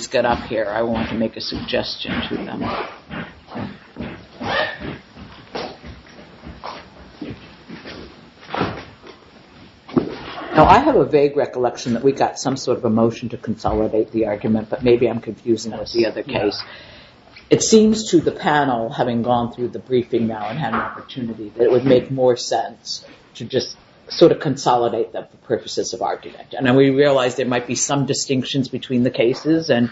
I have a vague recollection that we got some sort of a motion to consolidate the argument, but maybe I'm confusing it with the other case. It seems to the panel, having gone through the briefing now and had an opportunity, that it would make more sense to just sort of consolidate the purposes of argument. And we realize there might be some distinctions between the cases and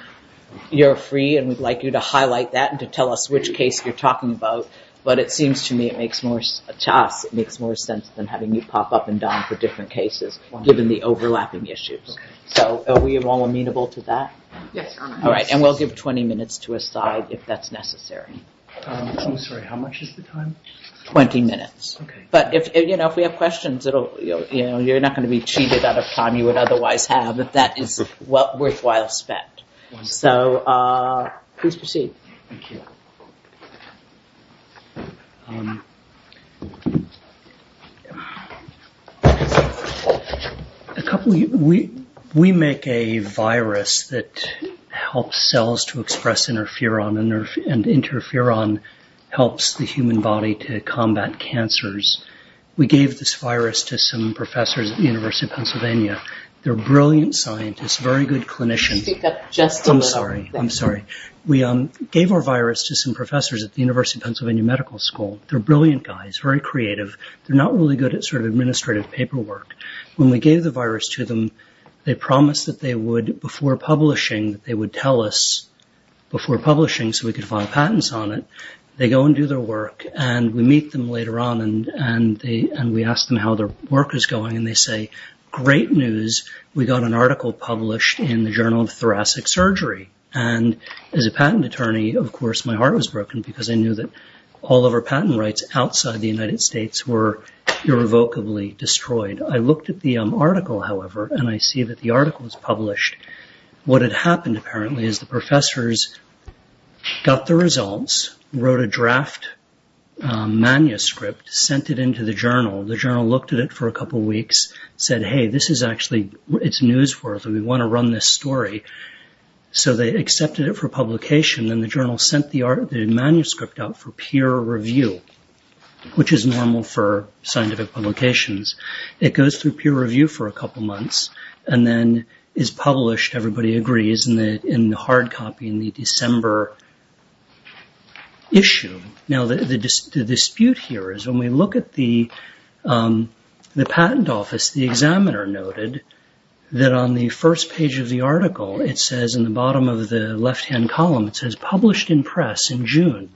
you're free and we'd like you to highlight that and tell us which case you're talking about. But it seems to me it makes more sense than having you pop up and down for different cases given the overlapping issues. So are we all amenable to that? Yes. All right. And we'll give 20 minutes to a side if that's necessary. I'm sorry, how much is the time? 20 minutes. Okay. But if we have questions, you're not going to be cheated out of time you would otherwise have if that is worthwhile spent. So please proceed. Thank you. We make a virus that helps cells to express interferon and interferon helps the human body to combat cancers. We gave this virus to some professors at the University of Pennsylvania. They're brilliant scientists, very good clinicians. I'm sorry. I'm sorry. We gave our virus to some professors at the University of Pennsylvania Medical School. They're brilliant guys, very creative. They're not really good at sort of administrative paperwork. When we gave the virus to them, they promised that they would, before publishing, that they would tell us before publishing so we could file patents on it. They go and do their work and we meet them later on and we ask them how their work is going and they say, great news. We got an article published in the Journal of Thoracic Surgery. And as a patent attorney, of course, my heart was broken because I knew that all of our patent rights outside the United States were irrevocably destroyed. I looked at the article, however, and I see that the article was published. What had happened apparently is the professors got the results, wrote a draft manuscript, sent it into the journal. The journal looked at it for a couple of weeks, said, hey, this is actually, it's newsworthy. We want to run this story. So they accepted it for publication. Then the journal sent the manuscript out for peer review, which is normal for scientific publications. It goes through peer review for a couple months and then is published, everybody agrees, in the hard copy in the December issue. Now the dispute here is when we look at the patent office, the examiner noted that on the first page of the article it says, in the bottom of the left-hand column, it says published in press in June.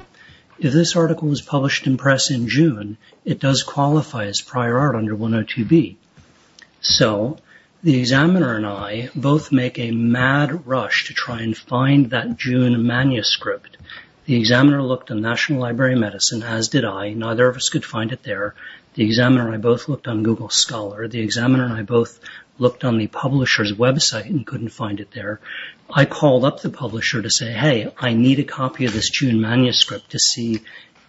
If this article was published in press in June, it does qualify as prior art under 102B. So the examiner and I both make a mad rush to try and find that June manuscript. The examiner looked on National Library of Medicine, as did I. Neither of us could find it there. The examiner and I both looked on Google Scholar. The examiner and I both looked on the publisher's website and couldn't find it there. I called up the publisher to say, hey, I need a copy of this June manuscript to see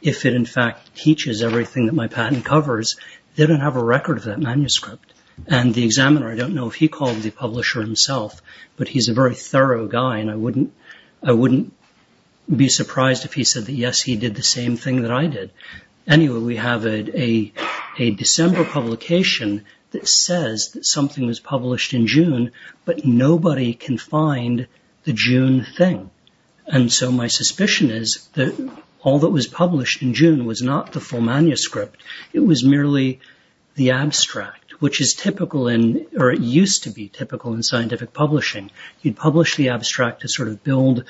if it in fact teaches everything that my patent covers. They don't have a record of that manuscript. And the examiner, I don't know if he called the publisher himself, but he's a very thorough guy, and I wouldn't be surprised if he said that, yes, he did the same thing that I did. Anyway, we have a December publication that says that something was published in June, but nobody can find the June thing. And so my suspicion is that all that was published in June was not the full manuscript. It was merely the abstract, which is typical in, or it used to be typical in scientific publishing. You'd publish the abstract to sort of build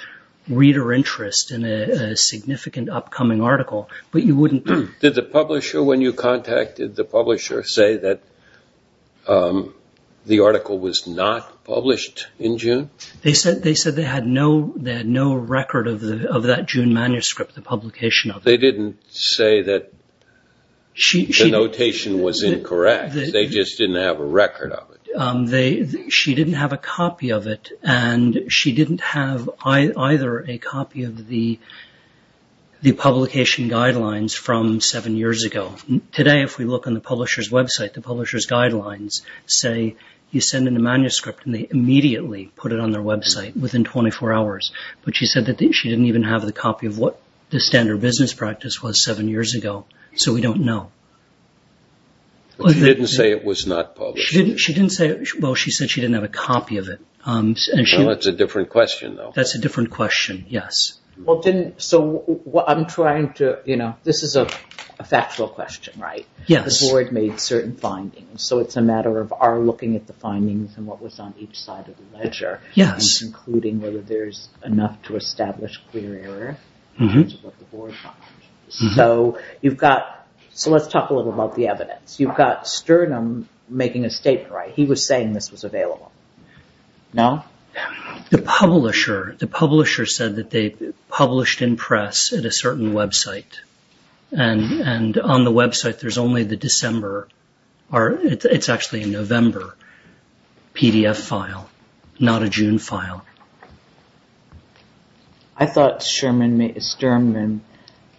reader interest in a significant upcoming article, but you wouldn't. Did the publisher, when you contacted the publisher, say that the article was not published in June? They said they had no record of that June manuscript, the publication of it. They didn't say that the notation was incorrect. They just didn't have a record of it. She didn't have a copy of it, and she didn't have either a copy of the publication guidelines from seven years ago. Today, if we look on the publisher's website, the publisher's guidelines say you send in a manuscript, and they immediately put it on their website within 24 hours. But she said that she didn't even have the copy of what the standard business practice was seven years ago. So we don't know. She didn't say it was not published. She didn't say, well, she said she didn't have a copy of it. Well, that's a different question, though. That's a different question, yes. So I'm trying to, you know, this is a factual question, right? Yes. The board made certain findings, so it's a matter of our looking at the findings and what was on each side of the ledger. Yes. Including whether there's enough to establish clear error in terms of what the board found. So let's talk a little about the evidence. You've got Sturnum making a statement, right? He was saying this was available. No? The publisher said that they published in press at a certain website, and on the website there's only the December, or it's actually a November PDF file, not a June file. I thought Sturman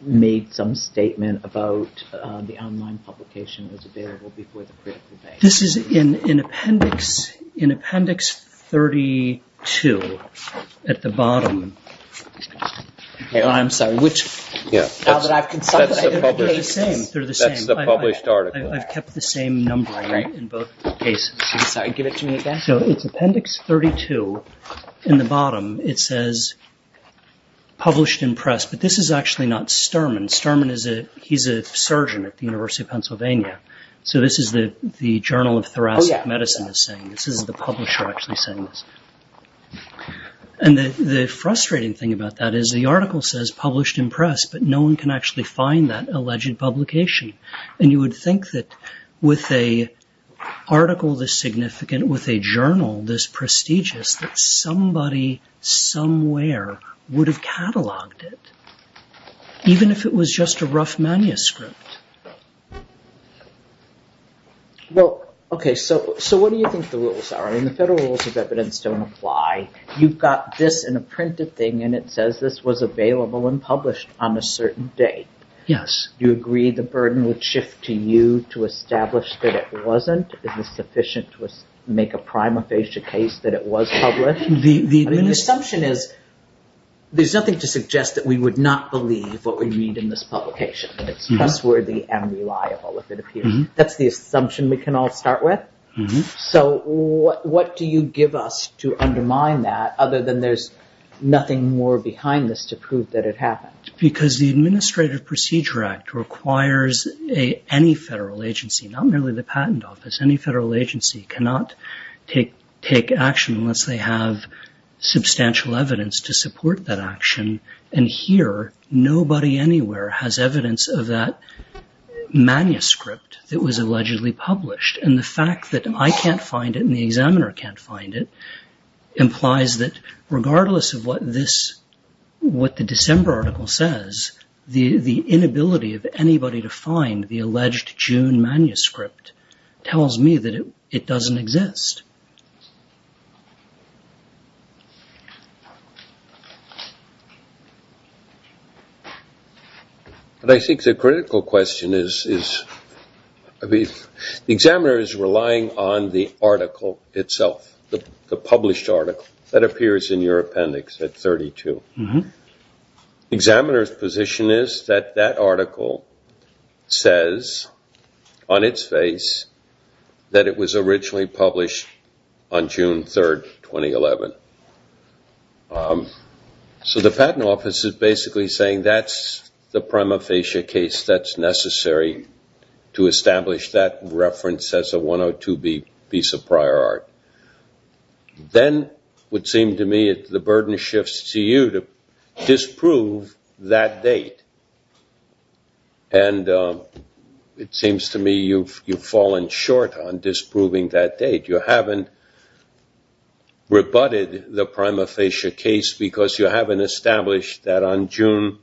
made some statement about the online publication was available before the critical bank. This is in appendix 32 at the bottom. I'm sorry, which? That's the published article. I've kept the same number in both cases. Sorry, give it to me again. So it's appendix 32 in the bottom. It says published in press, but this is actually not Sturman. Sturman, he's a surgeon at the University of Pennsylvania. So this is the Journal of Thoracic Medicine is saying. This is the publisher actually saying this. And the frustrating thing about that is the article says published in press, but no one can actually find that alleged publication. And you would think that with an article this significant, with a journal this prestigious, that somebody somewhere would have cataloged it, even if it was just a rough manuscript. Well, okay, so what do you think the rules are? I mean, the federal rules of evidence don't apply. You've got this in a printed thing, and it says this was available and published on a certain date. Yes. Do you agree the burden would shift to you to establish that it wasn't? Is it sufficient to make a prima facie case that it was published? The assumption is there's nothing to suggest that we would not believe what we read in this publication. It's trustworthy and reliable, if it appears. That's the assumption we can all start with. So what do you give us to undermine that, other than there's nothing more behind this to prove that it happened? Because the Administrative Procedure Act requires any federal agency, not merely the Patent Office, any federal agency, cannot take action unless they have substantial evidence to support that action. And here, nobody anywhere has evidence of that manuscript that was allegedly published. And the fact that I can't find it and the examiner can't find it regardless of what the December article says, the inability of anybody to find the alleged June manuscript tells me that it doesn't exist. But I think the critical question is, the examiner is relying on the article itself, the published article that appears in your appendix at 32. The examiner's position is that that article says, on its face, that it was originally published on June 3, 2011. So the Patent Office is basically saying that's the prima facie case that's necessary to establish that reference as a 102B piece of prior art. Then, it would seem to me, the burden shifts to you to disprove that date. And it seems to me you've fallen short on disproving that date. You haven't rebutted the prima facie case because you haven't established that on June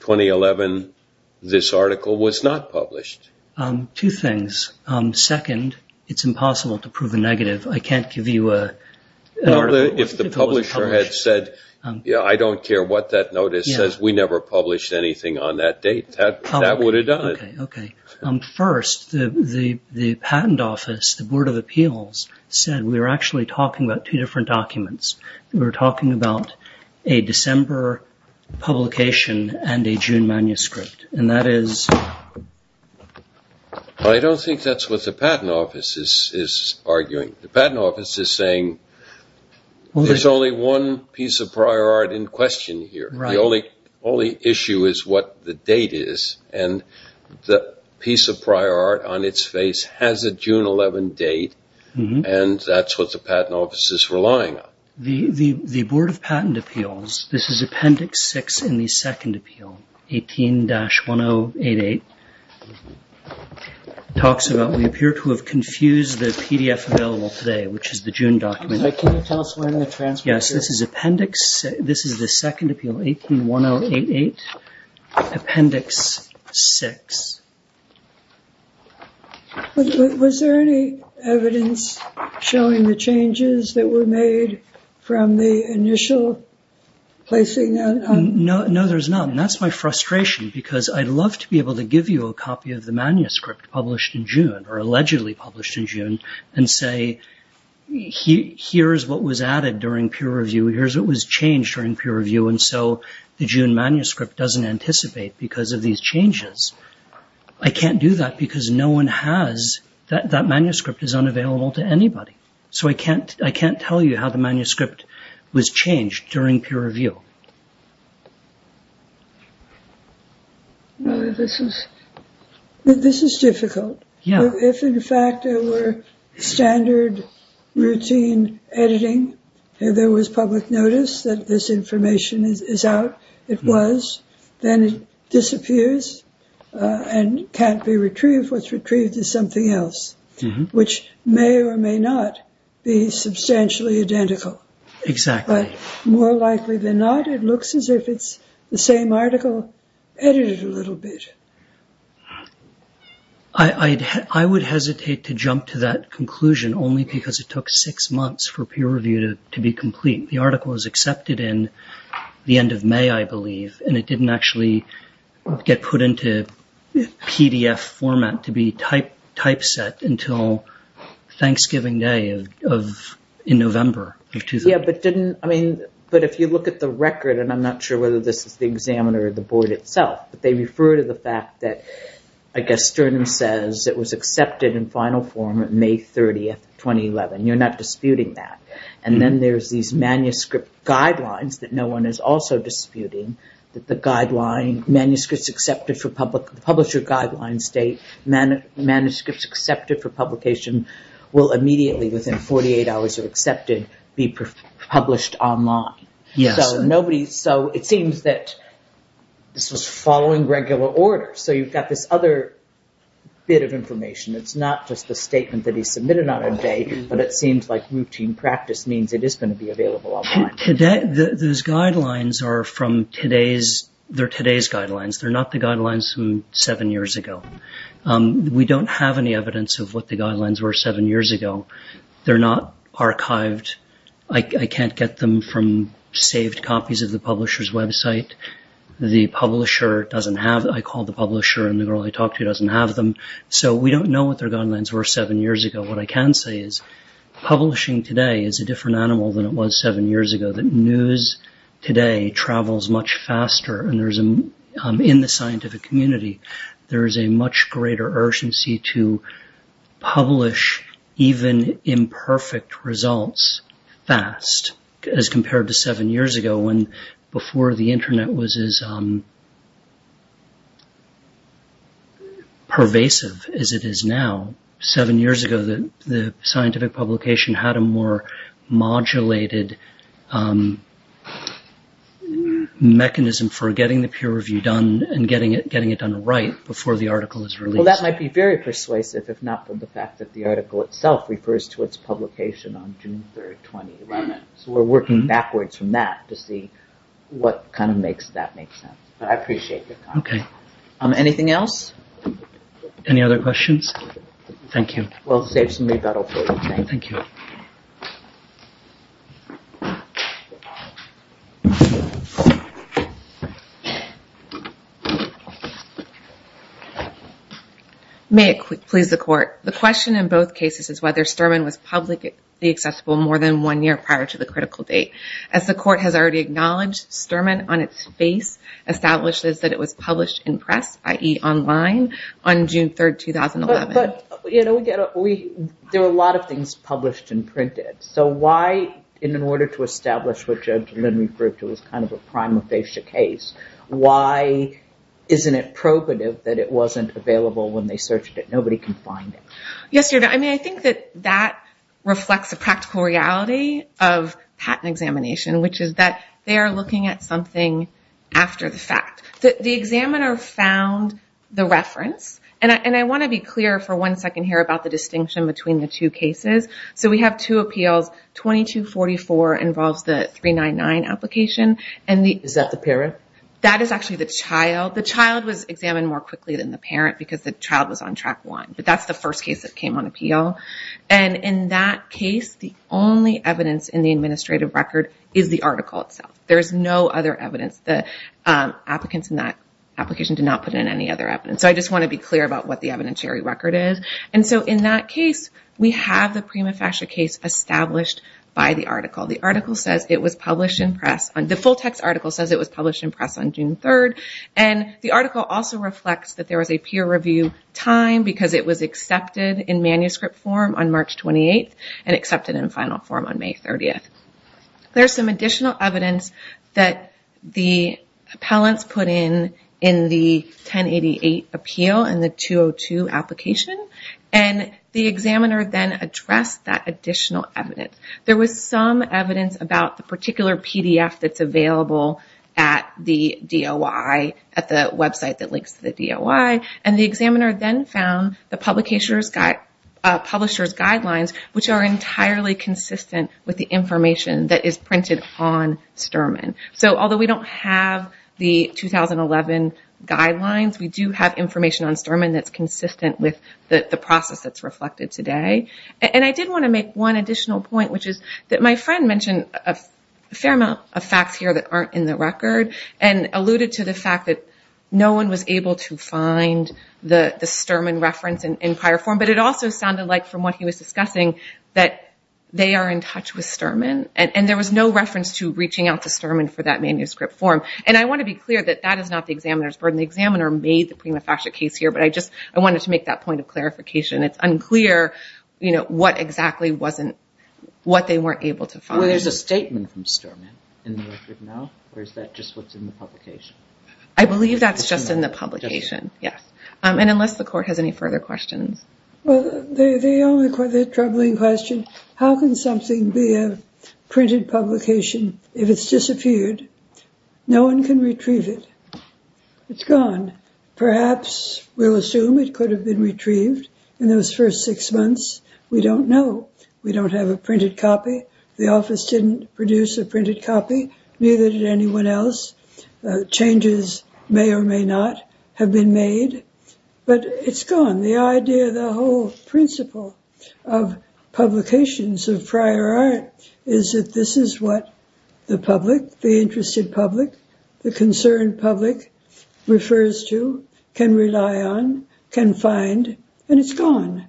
2011, this article was not published. Two things. Second, it's impossible to prove a negative. I can't give you an article that wasn't published. If the publisher had said, I don't care what that notice says, we never published anything on that date, that would have done it. First, the Patent Office, the Board of Appeals, said we were actually talking about two different documents. We were talking about a December publication and a June manuscript. I don't think that's what the Patent Office is arguing. The Patent Office is saying there's only one piece of prior art in question here. The only issue is what the date is. And the piece of prior art on its face has a June 11 date and that's what the Patent Office is relying on. The Board of Patent Appeals, this is Appendix 6 in the Second Appeal, 18-1088, talks about we appear to have confused the PDF available today, which is the June document. Can you tell us when the transcript is? Yes, this is Appendix 6. This is the Second Appeal, 18-1088, Appendix 6. Was there any evidence showing the changes that were made from the initial placing that on? No, there's none. That's my frustration because I'd love to be able to give you a copy of the manuscript published in June, or allegedly published in June, and say, here's what was added during peer review, here's what was changed during peer review, and so the June manuscript doesn't anticipate because of these changes. I can't do that because no one has, that manuscript is unavailable to anybody. So I can't tell you how the manuscript was changed during peer review. This is difficult. If, in fact, there were standard routine editing, if there was public notice that this information is out, it was, then it disappears and can't be retrieved. What's retrieved is something else, which may or may not be substantially identical. Exactly. But more likely than not, it looks as if it's the same article edited a little bit. I would hesitate to jump to that conclusion only because it took six months for peer review to be complete. The article was accepted in the end of May, I believe, and it didn't actually get put into PDF format to be typeset until Thanksgiving Day in November of 2000. Yeah, but didn't, I mean, but if you look at the record, and I'm not sure whether this is the examiner or the board itself, but they refer to the fact that, I guess, Sternum says it was accepted in final form on May 30th, 2011. You're not disputing that. And then there's these manuscript guidelines that no one is also disputing, that the guideline, Manuscripts Accepted for Publisher Guidelines state Manuscripts Accepted for Publication will immediately, within 48 hours of acceptance, be published online. So it seems that this was following regular order. So you've got this other bit of information. It's not just the statement that he submitted on a day, but it seems like routine practice means it is going to be available online. Those guidelines are from today's, they're today's guidelines. They're not the guidelines from seven years ago. We don't have any evidence of what the guidelines were seven years ago. They're not archived. I can't get them from saved copies of the publisher's website. The publisher doesn't have them. I called the publisher and the girl I talked to doesn't have them. So we don't know what their guidelines were seven years ago. What I can say is publishing today is a different animal than it was seven years ago. The news today travels much faster. And in the scientific community, there is a much greater urgency to publish even imperfect results fast as compared to seven years ago when before the Internet was as pervasive as it is now. Seven years ago, the scientific publication had a more modulated mechanism for getting the peer review done and getting it done right before the article is released. Well, that might be very persuasive if not for the fact that the article itself refers to its publication on June 3, 2011. So we're working backwards from that to see what kind of makes that make sense. But I appreciate your comment. Anything else? Any other questions? Thank you. We'll save some rebuttal for you. Thank you. May it please the court. The question in both cases is whether Sturman was publicly accessible more than one year prior to the critical date. As the court has already acknowledged, Sturman on its face establishes that it was published in press, i.e. online, on June 3, 2011. But, you know, there were a lot of things published and printed. So why, in order to establish what Judge Lindbergh proved was kind of a prima facie case, why isn't it probative that it wasn't available when they searched it? Nobody can find it. Yes, Your Honor. I mean, I think that that reflects a practical reality of patent examination, which is that they are looking at something after the fact. The examiner found the reference, and I want to be clear for one second here about the distinction between the two cases. So we have two appeals. 2244 involves the 399 application. Is that the parent? That is actually the child. The child was examined more quickly than the parent because the child was on track one. But that's the first case that came on appeal. And in that case, the only evidence in the administrative record is the article itself. There is no other evidence. The applicants in that application did not put in any other evidence. So I just want to be clear about what the evidentiary record is. And so in that case, we have the prima facie case established by the article. The article says it was published in press. The full text article says it was published in press on June 3rd. And the article also reflects that there was a peer review time because it was accepted in manuscript form on March 28th and accepted in final form on May 30th. There's some additional evidence that the appellants put in in the 1088 appeal and the 202 application. And the examiner then addressed that additional evidence. There was some evidence about the particular PDF that's available at the DOI, at the website that links to the DOI. And the examiner then found the publisher's guidelines, which are entirely consistent with the information that is printed on Sturman. So although we don't have the 2011 guidelines, we do have information on Sturman that's consistent with the process that's reflected today. And I did want to make one additional point, which is that my friend mentioned a fair amount of facts here that aren't in the record and alluded to the fact that no one was able to find the Sturman reference in prior form. But it also sounded like, from what he was discussing, that they are in touch with Sturman. And there was no reference to reaching out to Sturman for that manuscript form. And I want to be clear that that is not the examiner's burden. The examiner made the prima facie case here, but I just wanted to make that point of clarification. It's unclear what exactly they weren't able to find. Well, there's a statement from Sturman in the record now, or is that just what's in the publication? I believe that's just in the publication, yes. And unless the Court has any further questions. Well, the only troubling question, how can something be a printed publication if it's disappeared? No one can retrieve it. It's gone. Perhaps we'll assume it could have been retrieved. In those first six months, we don't know. We don't have a printed copy. The office didn't produce a printed copy. Neither did anyone else. Changes may or may not have been made. But it's gone. The idea, the whole principle of publications of prior art is that this is what the public, the interested public, the concerned public refers to, can rely on, can find, and it's gone.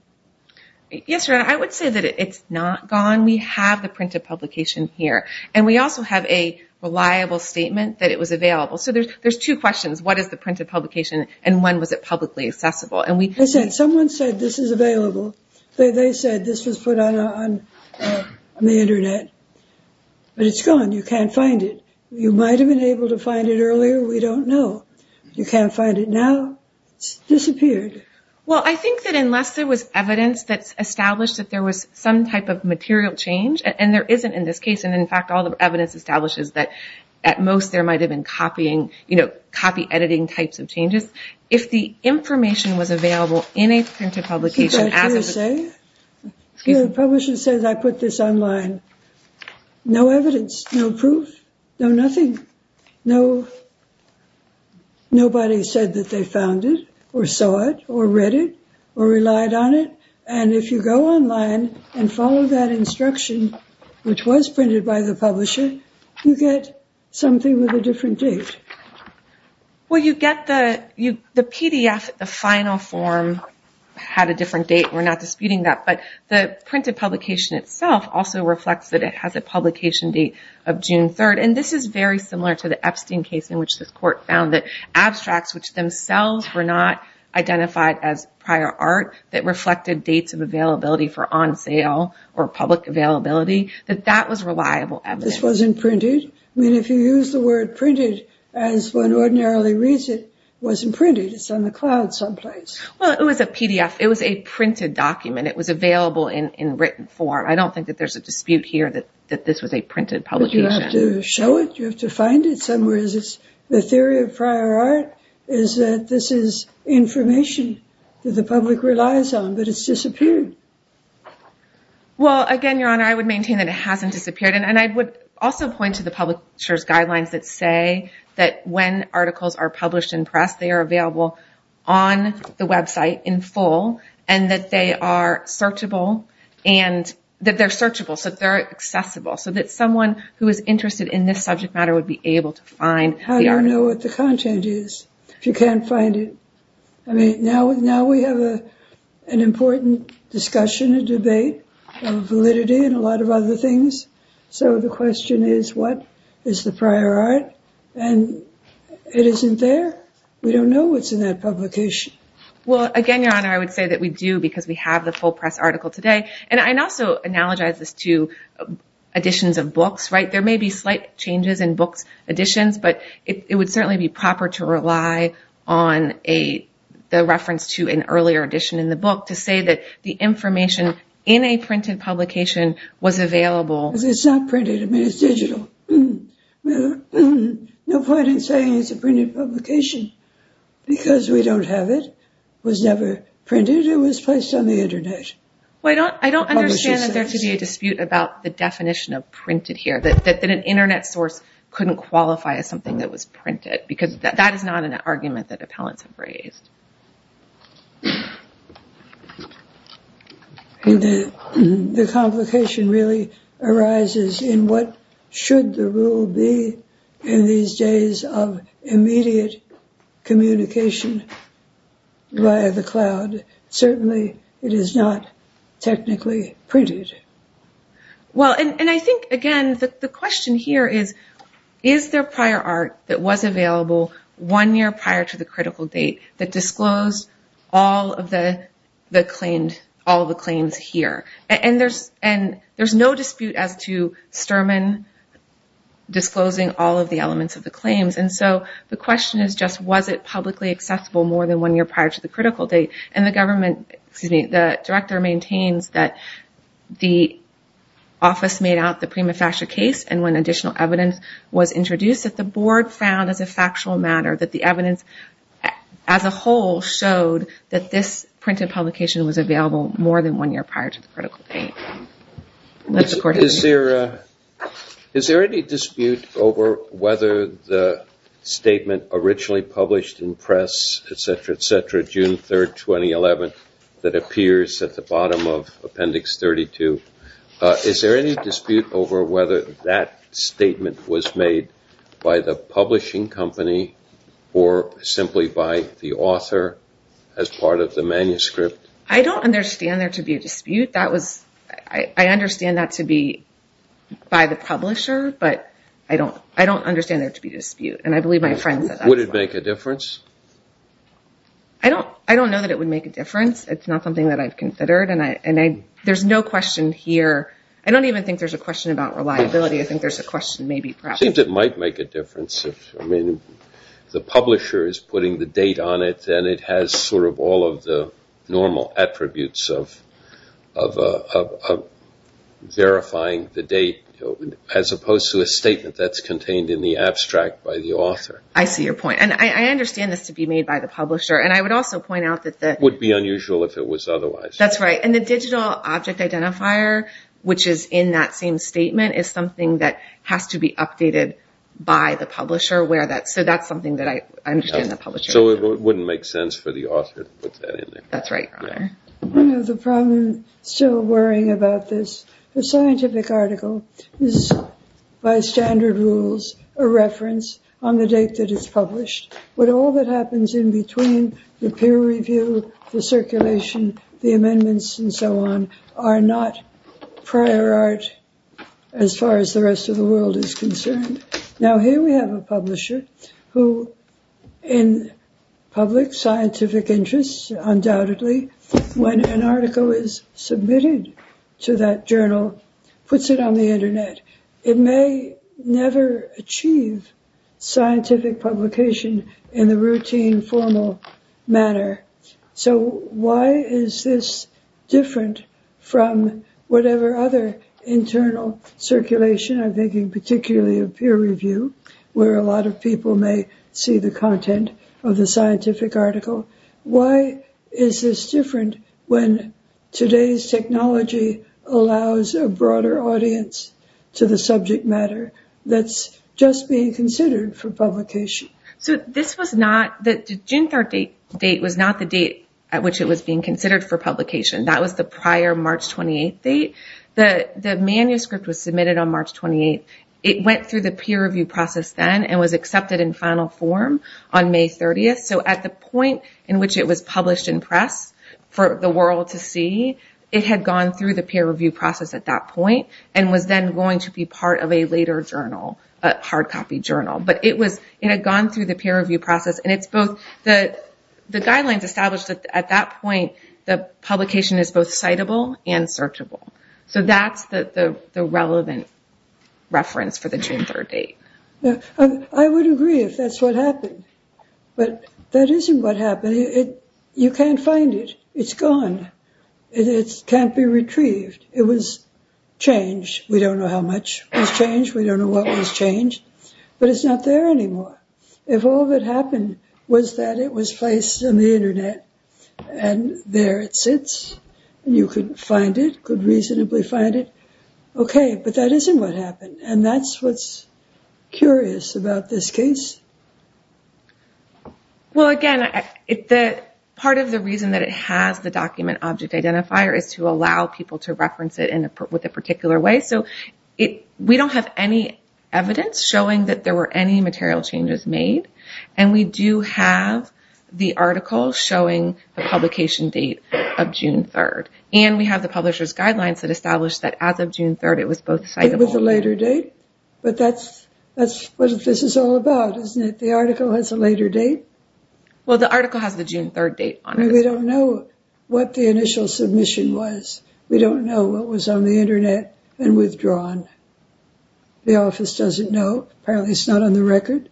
Yes, Your Honor, I would say that it's not gone. We have the printed publication here. And we also have a reliable statement that it was available. So there's two questions. What is the printed publication and when was it publicly accessible? Someone said this is available. They said this was put on the Internet. But it's gone. You can't find it. You might have been able to find it earlier. We don't know. You can't find it now. It's disappeared. Well, I think that unless there was evidence that's established that there was some type of material change, and there isn't in this case, and, in fact, all the evidence establishes that at most there might have been copying, you know, copy editing types of changes. If the information was available in a printed publication. The publisher says I put this online. No evidence. No proof. No nothing. Nobody said that they found it or saw it or read it or relied on it. And if you go online and follow that instruction, which was printed by the publisher, you get something with a different date. Well, you get the PDF, the final form, had a different date. We're not disputing that. But the printed publication itself also reflects that it has a publication date of June 3rd. And this is very similar to the Epstein case in which this court found that abstracts, which themselves were not identified as prior art, that reflected dates of availability for on sale or public availability, that that was reliable evidence. This wasn't printed. I mean, if you use the word printed as one ordinarily reads it, it wasn't printed. It's on the cloud someplace. Well, it was a PDF. It was a printed document. It was available in written form. I don't think that there's a dispute here that this was a printed publication. But you have to show it. You have to find it somewhere. The theory of prior art is that this is information that the public relies on, but it's disappeared. Well, again, Your Honor, I would maintain that it hasn't disappeared. And I would also point to the publisher's guidelines that say that when articles are published in press, they are available on the website in full, and that they are searchable, that they're accessible, so that someone who is interested in this subject matter would be able to find the article. I don't know what the content is. If you can't find it. I mean, now we have an important discussion, a debate of validity and a lot of other things. So the question is, what is the prior art? And it isn't there. We don't know what's in that publication. Well, again, Your Honor, I would say that we do because we have the full press article today. And I also analogize this to editions of books, right? There may be slight changes in books, editions, but it would certainly be proper to rely on the reference to an earlier edition in the book to say that the information in a printed publication was available. It's not printed. I mean, it's digital. No point in saying it's a printed publication because we don't have it. It was never printed. It was placed on the Internet. Well, I don't understand that there to be a dispute about the definition of printed here, that an Internet source couldn't qualify as something that was printed because that is not an argument that appellants have raised. The complication really arises in what should the rule be in these days of immediate communication via the cloud. Certainly, it is not technically printed. Well, and I think, again, the question here is, is there prior art that was available one year prior to the critical date that disclosed all of the claims here? And there's no dispute as to Sterman disclosing all of the elements of the claims. And so the question is just, was it publicly accessible more than one year prior to the critical date? And the government, excuse me, the director maintains that the office made out the prima facie case and when additional evidence was introduced that the board found as a factual matter that the evidence as a whole showed that this printed publication was available more than one year prior to the critical date. Is there any dispute over whether the statement originally published in press, etc., etc., June 3rd, 2011, that appears at the bottom of Appendix 32, is there any dispute over whether that statement was made by the publishing company or simply by the author as part of the manuscript? I don't understand there to be a dispute. I understand that to be by the publisher, but I don't understand there to be a dispute. And I believe my friend said that as well. Would it make a difference? I don't know that it would make a difference. It's not something that I've considered, and there's no question here. I don't even think there's a question about reliability. I think there's a question maybe perhaps. It seems it might make a difference. If the publisher is putting the date on it, then it has sort of all of the normal attributes of verifying the date, as opposed to a statement that's contained in the abstract by the author. I see your point. And I understand this to be made by the publisher, and I would also point out that the – It would be unusual if it was otherwise. That's right. And the digital object identifier, which is in that same statement, is something that has to be updated by the publisher. So that's something that I understand the publisher. So it wouldn't make sense for the author to put that in there? That's right, Your Honor. One of the problems, still worrying about this, the scientific article is, by standard rules, a reference on the date that it's published. But all that happens in between the peer review, the circulation, the amendments, and so on, are not prior art as far as the rest of the world is concerned. Now, here we have a publisher who, in public scientific interests, undoubtedly, when an article is submitted to that journal, puts it on the Internet. It may never achieve scientific publication in the routine, formal manner. So why is this different from whatever other internal circulation? I'm thinking particularly of peer review, where a lot of people may see the content of the scientific article. Why is this different when today's technology allows a broader audience to the subject matter that's just being considered for publication? So this was not, the Jinthar date was not the date at which it was being considered for publication. That was the prior March 28th date. The manuscript was submitted on March 28th. It went through the peer review process then and was accepted in final form on May 30th. So at the point in which it was published in press for the world to see, it had gone through the peer review process at that point and was then going to be part of a later journal, a hard copy journal. But it was, it had gone through the peer review process. And it's both, the guidelines established at that point, the publication is both citable and searchable. So that's the relevant reference for the Jinthar date. I would agree if that's what happened. But that isn't what happened. You can't find it. It's gone. It can't be retrieved. It was changed. We don't know how much was changed. We don't know what was changed. But it's not there anymore. If all that happened was that it was placed on the Internet and there it sits, you could find it, could reasonably find it. Okay, but that isn't what happened. And that's what's curious about this case. Well, again, part of the reason that it has the document object identifier is to allow people to reference it with a particular way. So we don't have any evidence showing that there were any material changes made. And we do have the article showing the publication date of June 3rd. And we have the publisher's guidelines that established that as of June 3rd it was both citable and searchable. But that's what this is all about, isn't it? The article has a later date. Well, the article has the June 3rd date on it. We don't know what the initial submission was. We don't know what was on the Internet and withdrawn. The office doesn't know. Apparently it's not on the record.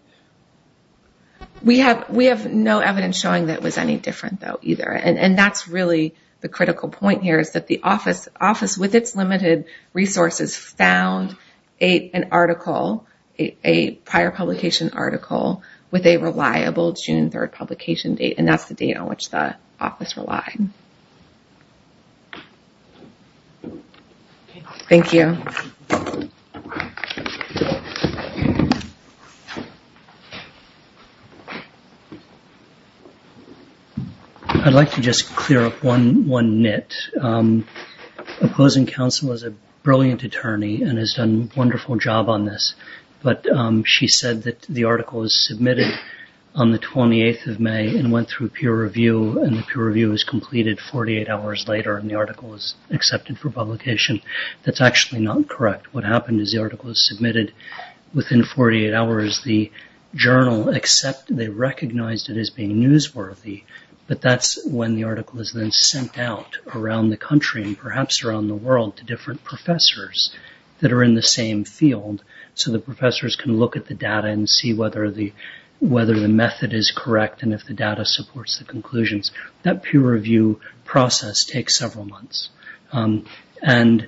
We have no evidence showing that it was any different, though, either. And that's really the critical point here is that the office, with its limited resources, found an article, a prior publication article, with a reliable June 3rd publication date. And that's the date on which the office relied. Thank you. I'd like to just clear up one nit. Opposing counsel is a brilliant attorney and has done a wonderful job on this. But she said that the article was submitted on the 28th of May and went through peer review. And the peer review was completed 48 hours later and the article was accepted for publication. That's actually not correct. What happened is the article was submitted within 48 hours. The journal accepted it, recognized it as being newsworthy. But that's when the article is then sent out around the country and perhaps around the world to different professors that are in the same field so the professors can look at the data and see whether the method is correct and if the data supports the conclusions. That peer review process takes several months. And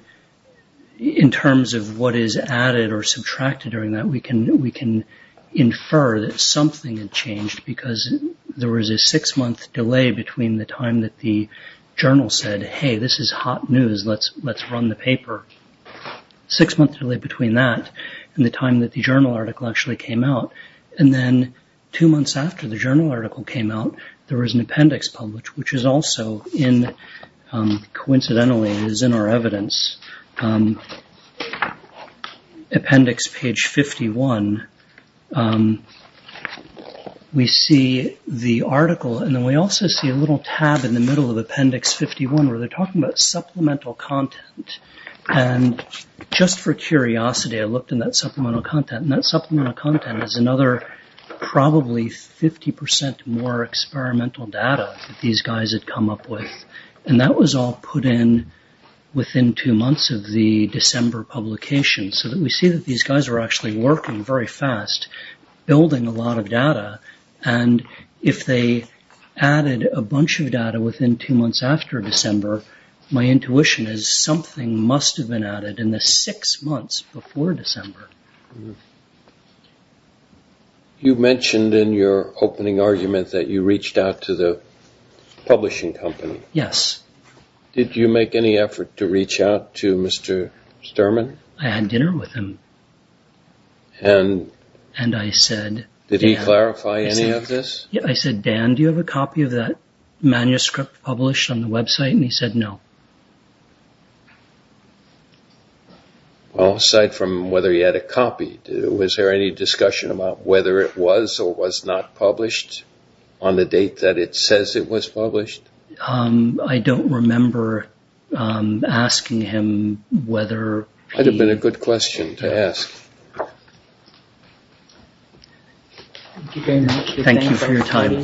in terms of what is added or subtracted during that, we can infer that something had changed because there was a six-month delay between the time that the journal said, hey, this is hot news, let's run the paper. Six-month delay between that and the time that the journal article actually came out. And then two months after the journal article came out, there was an appendix published, which is also in, coincidentally is in our evidence, appendix page 51. We see the article and then we also see a little tab in the middle of appendix 51 where they're talking about supplemental content. And just for curiosity, I looked in that supplemental content and that supplemental content is another probably 50% more experimental data that these guys had come up with. And that was all put in within two months of the December publication. So that we see that these guys were actually working very fast, building a lot of data. And if they added a bunch of data within two months after December, my intuition is something must have been added in the six months before December. You mentioned in your opening argument that you reached out to the publishing company. Yes. Did you make any effort to reach out to Mr. Sterman? I had dinner with him and I said... Did he clarify any of this? I said, Dan, do you have a copy of that manuscript published on the website? And he said no. Well, aside from whether he had a copy, was there any discussion about whether it was or was not published on the date that it says it was published? I don't remember asking him whether... That would have been a good question to ask. Thank you very much. Thank you for your time.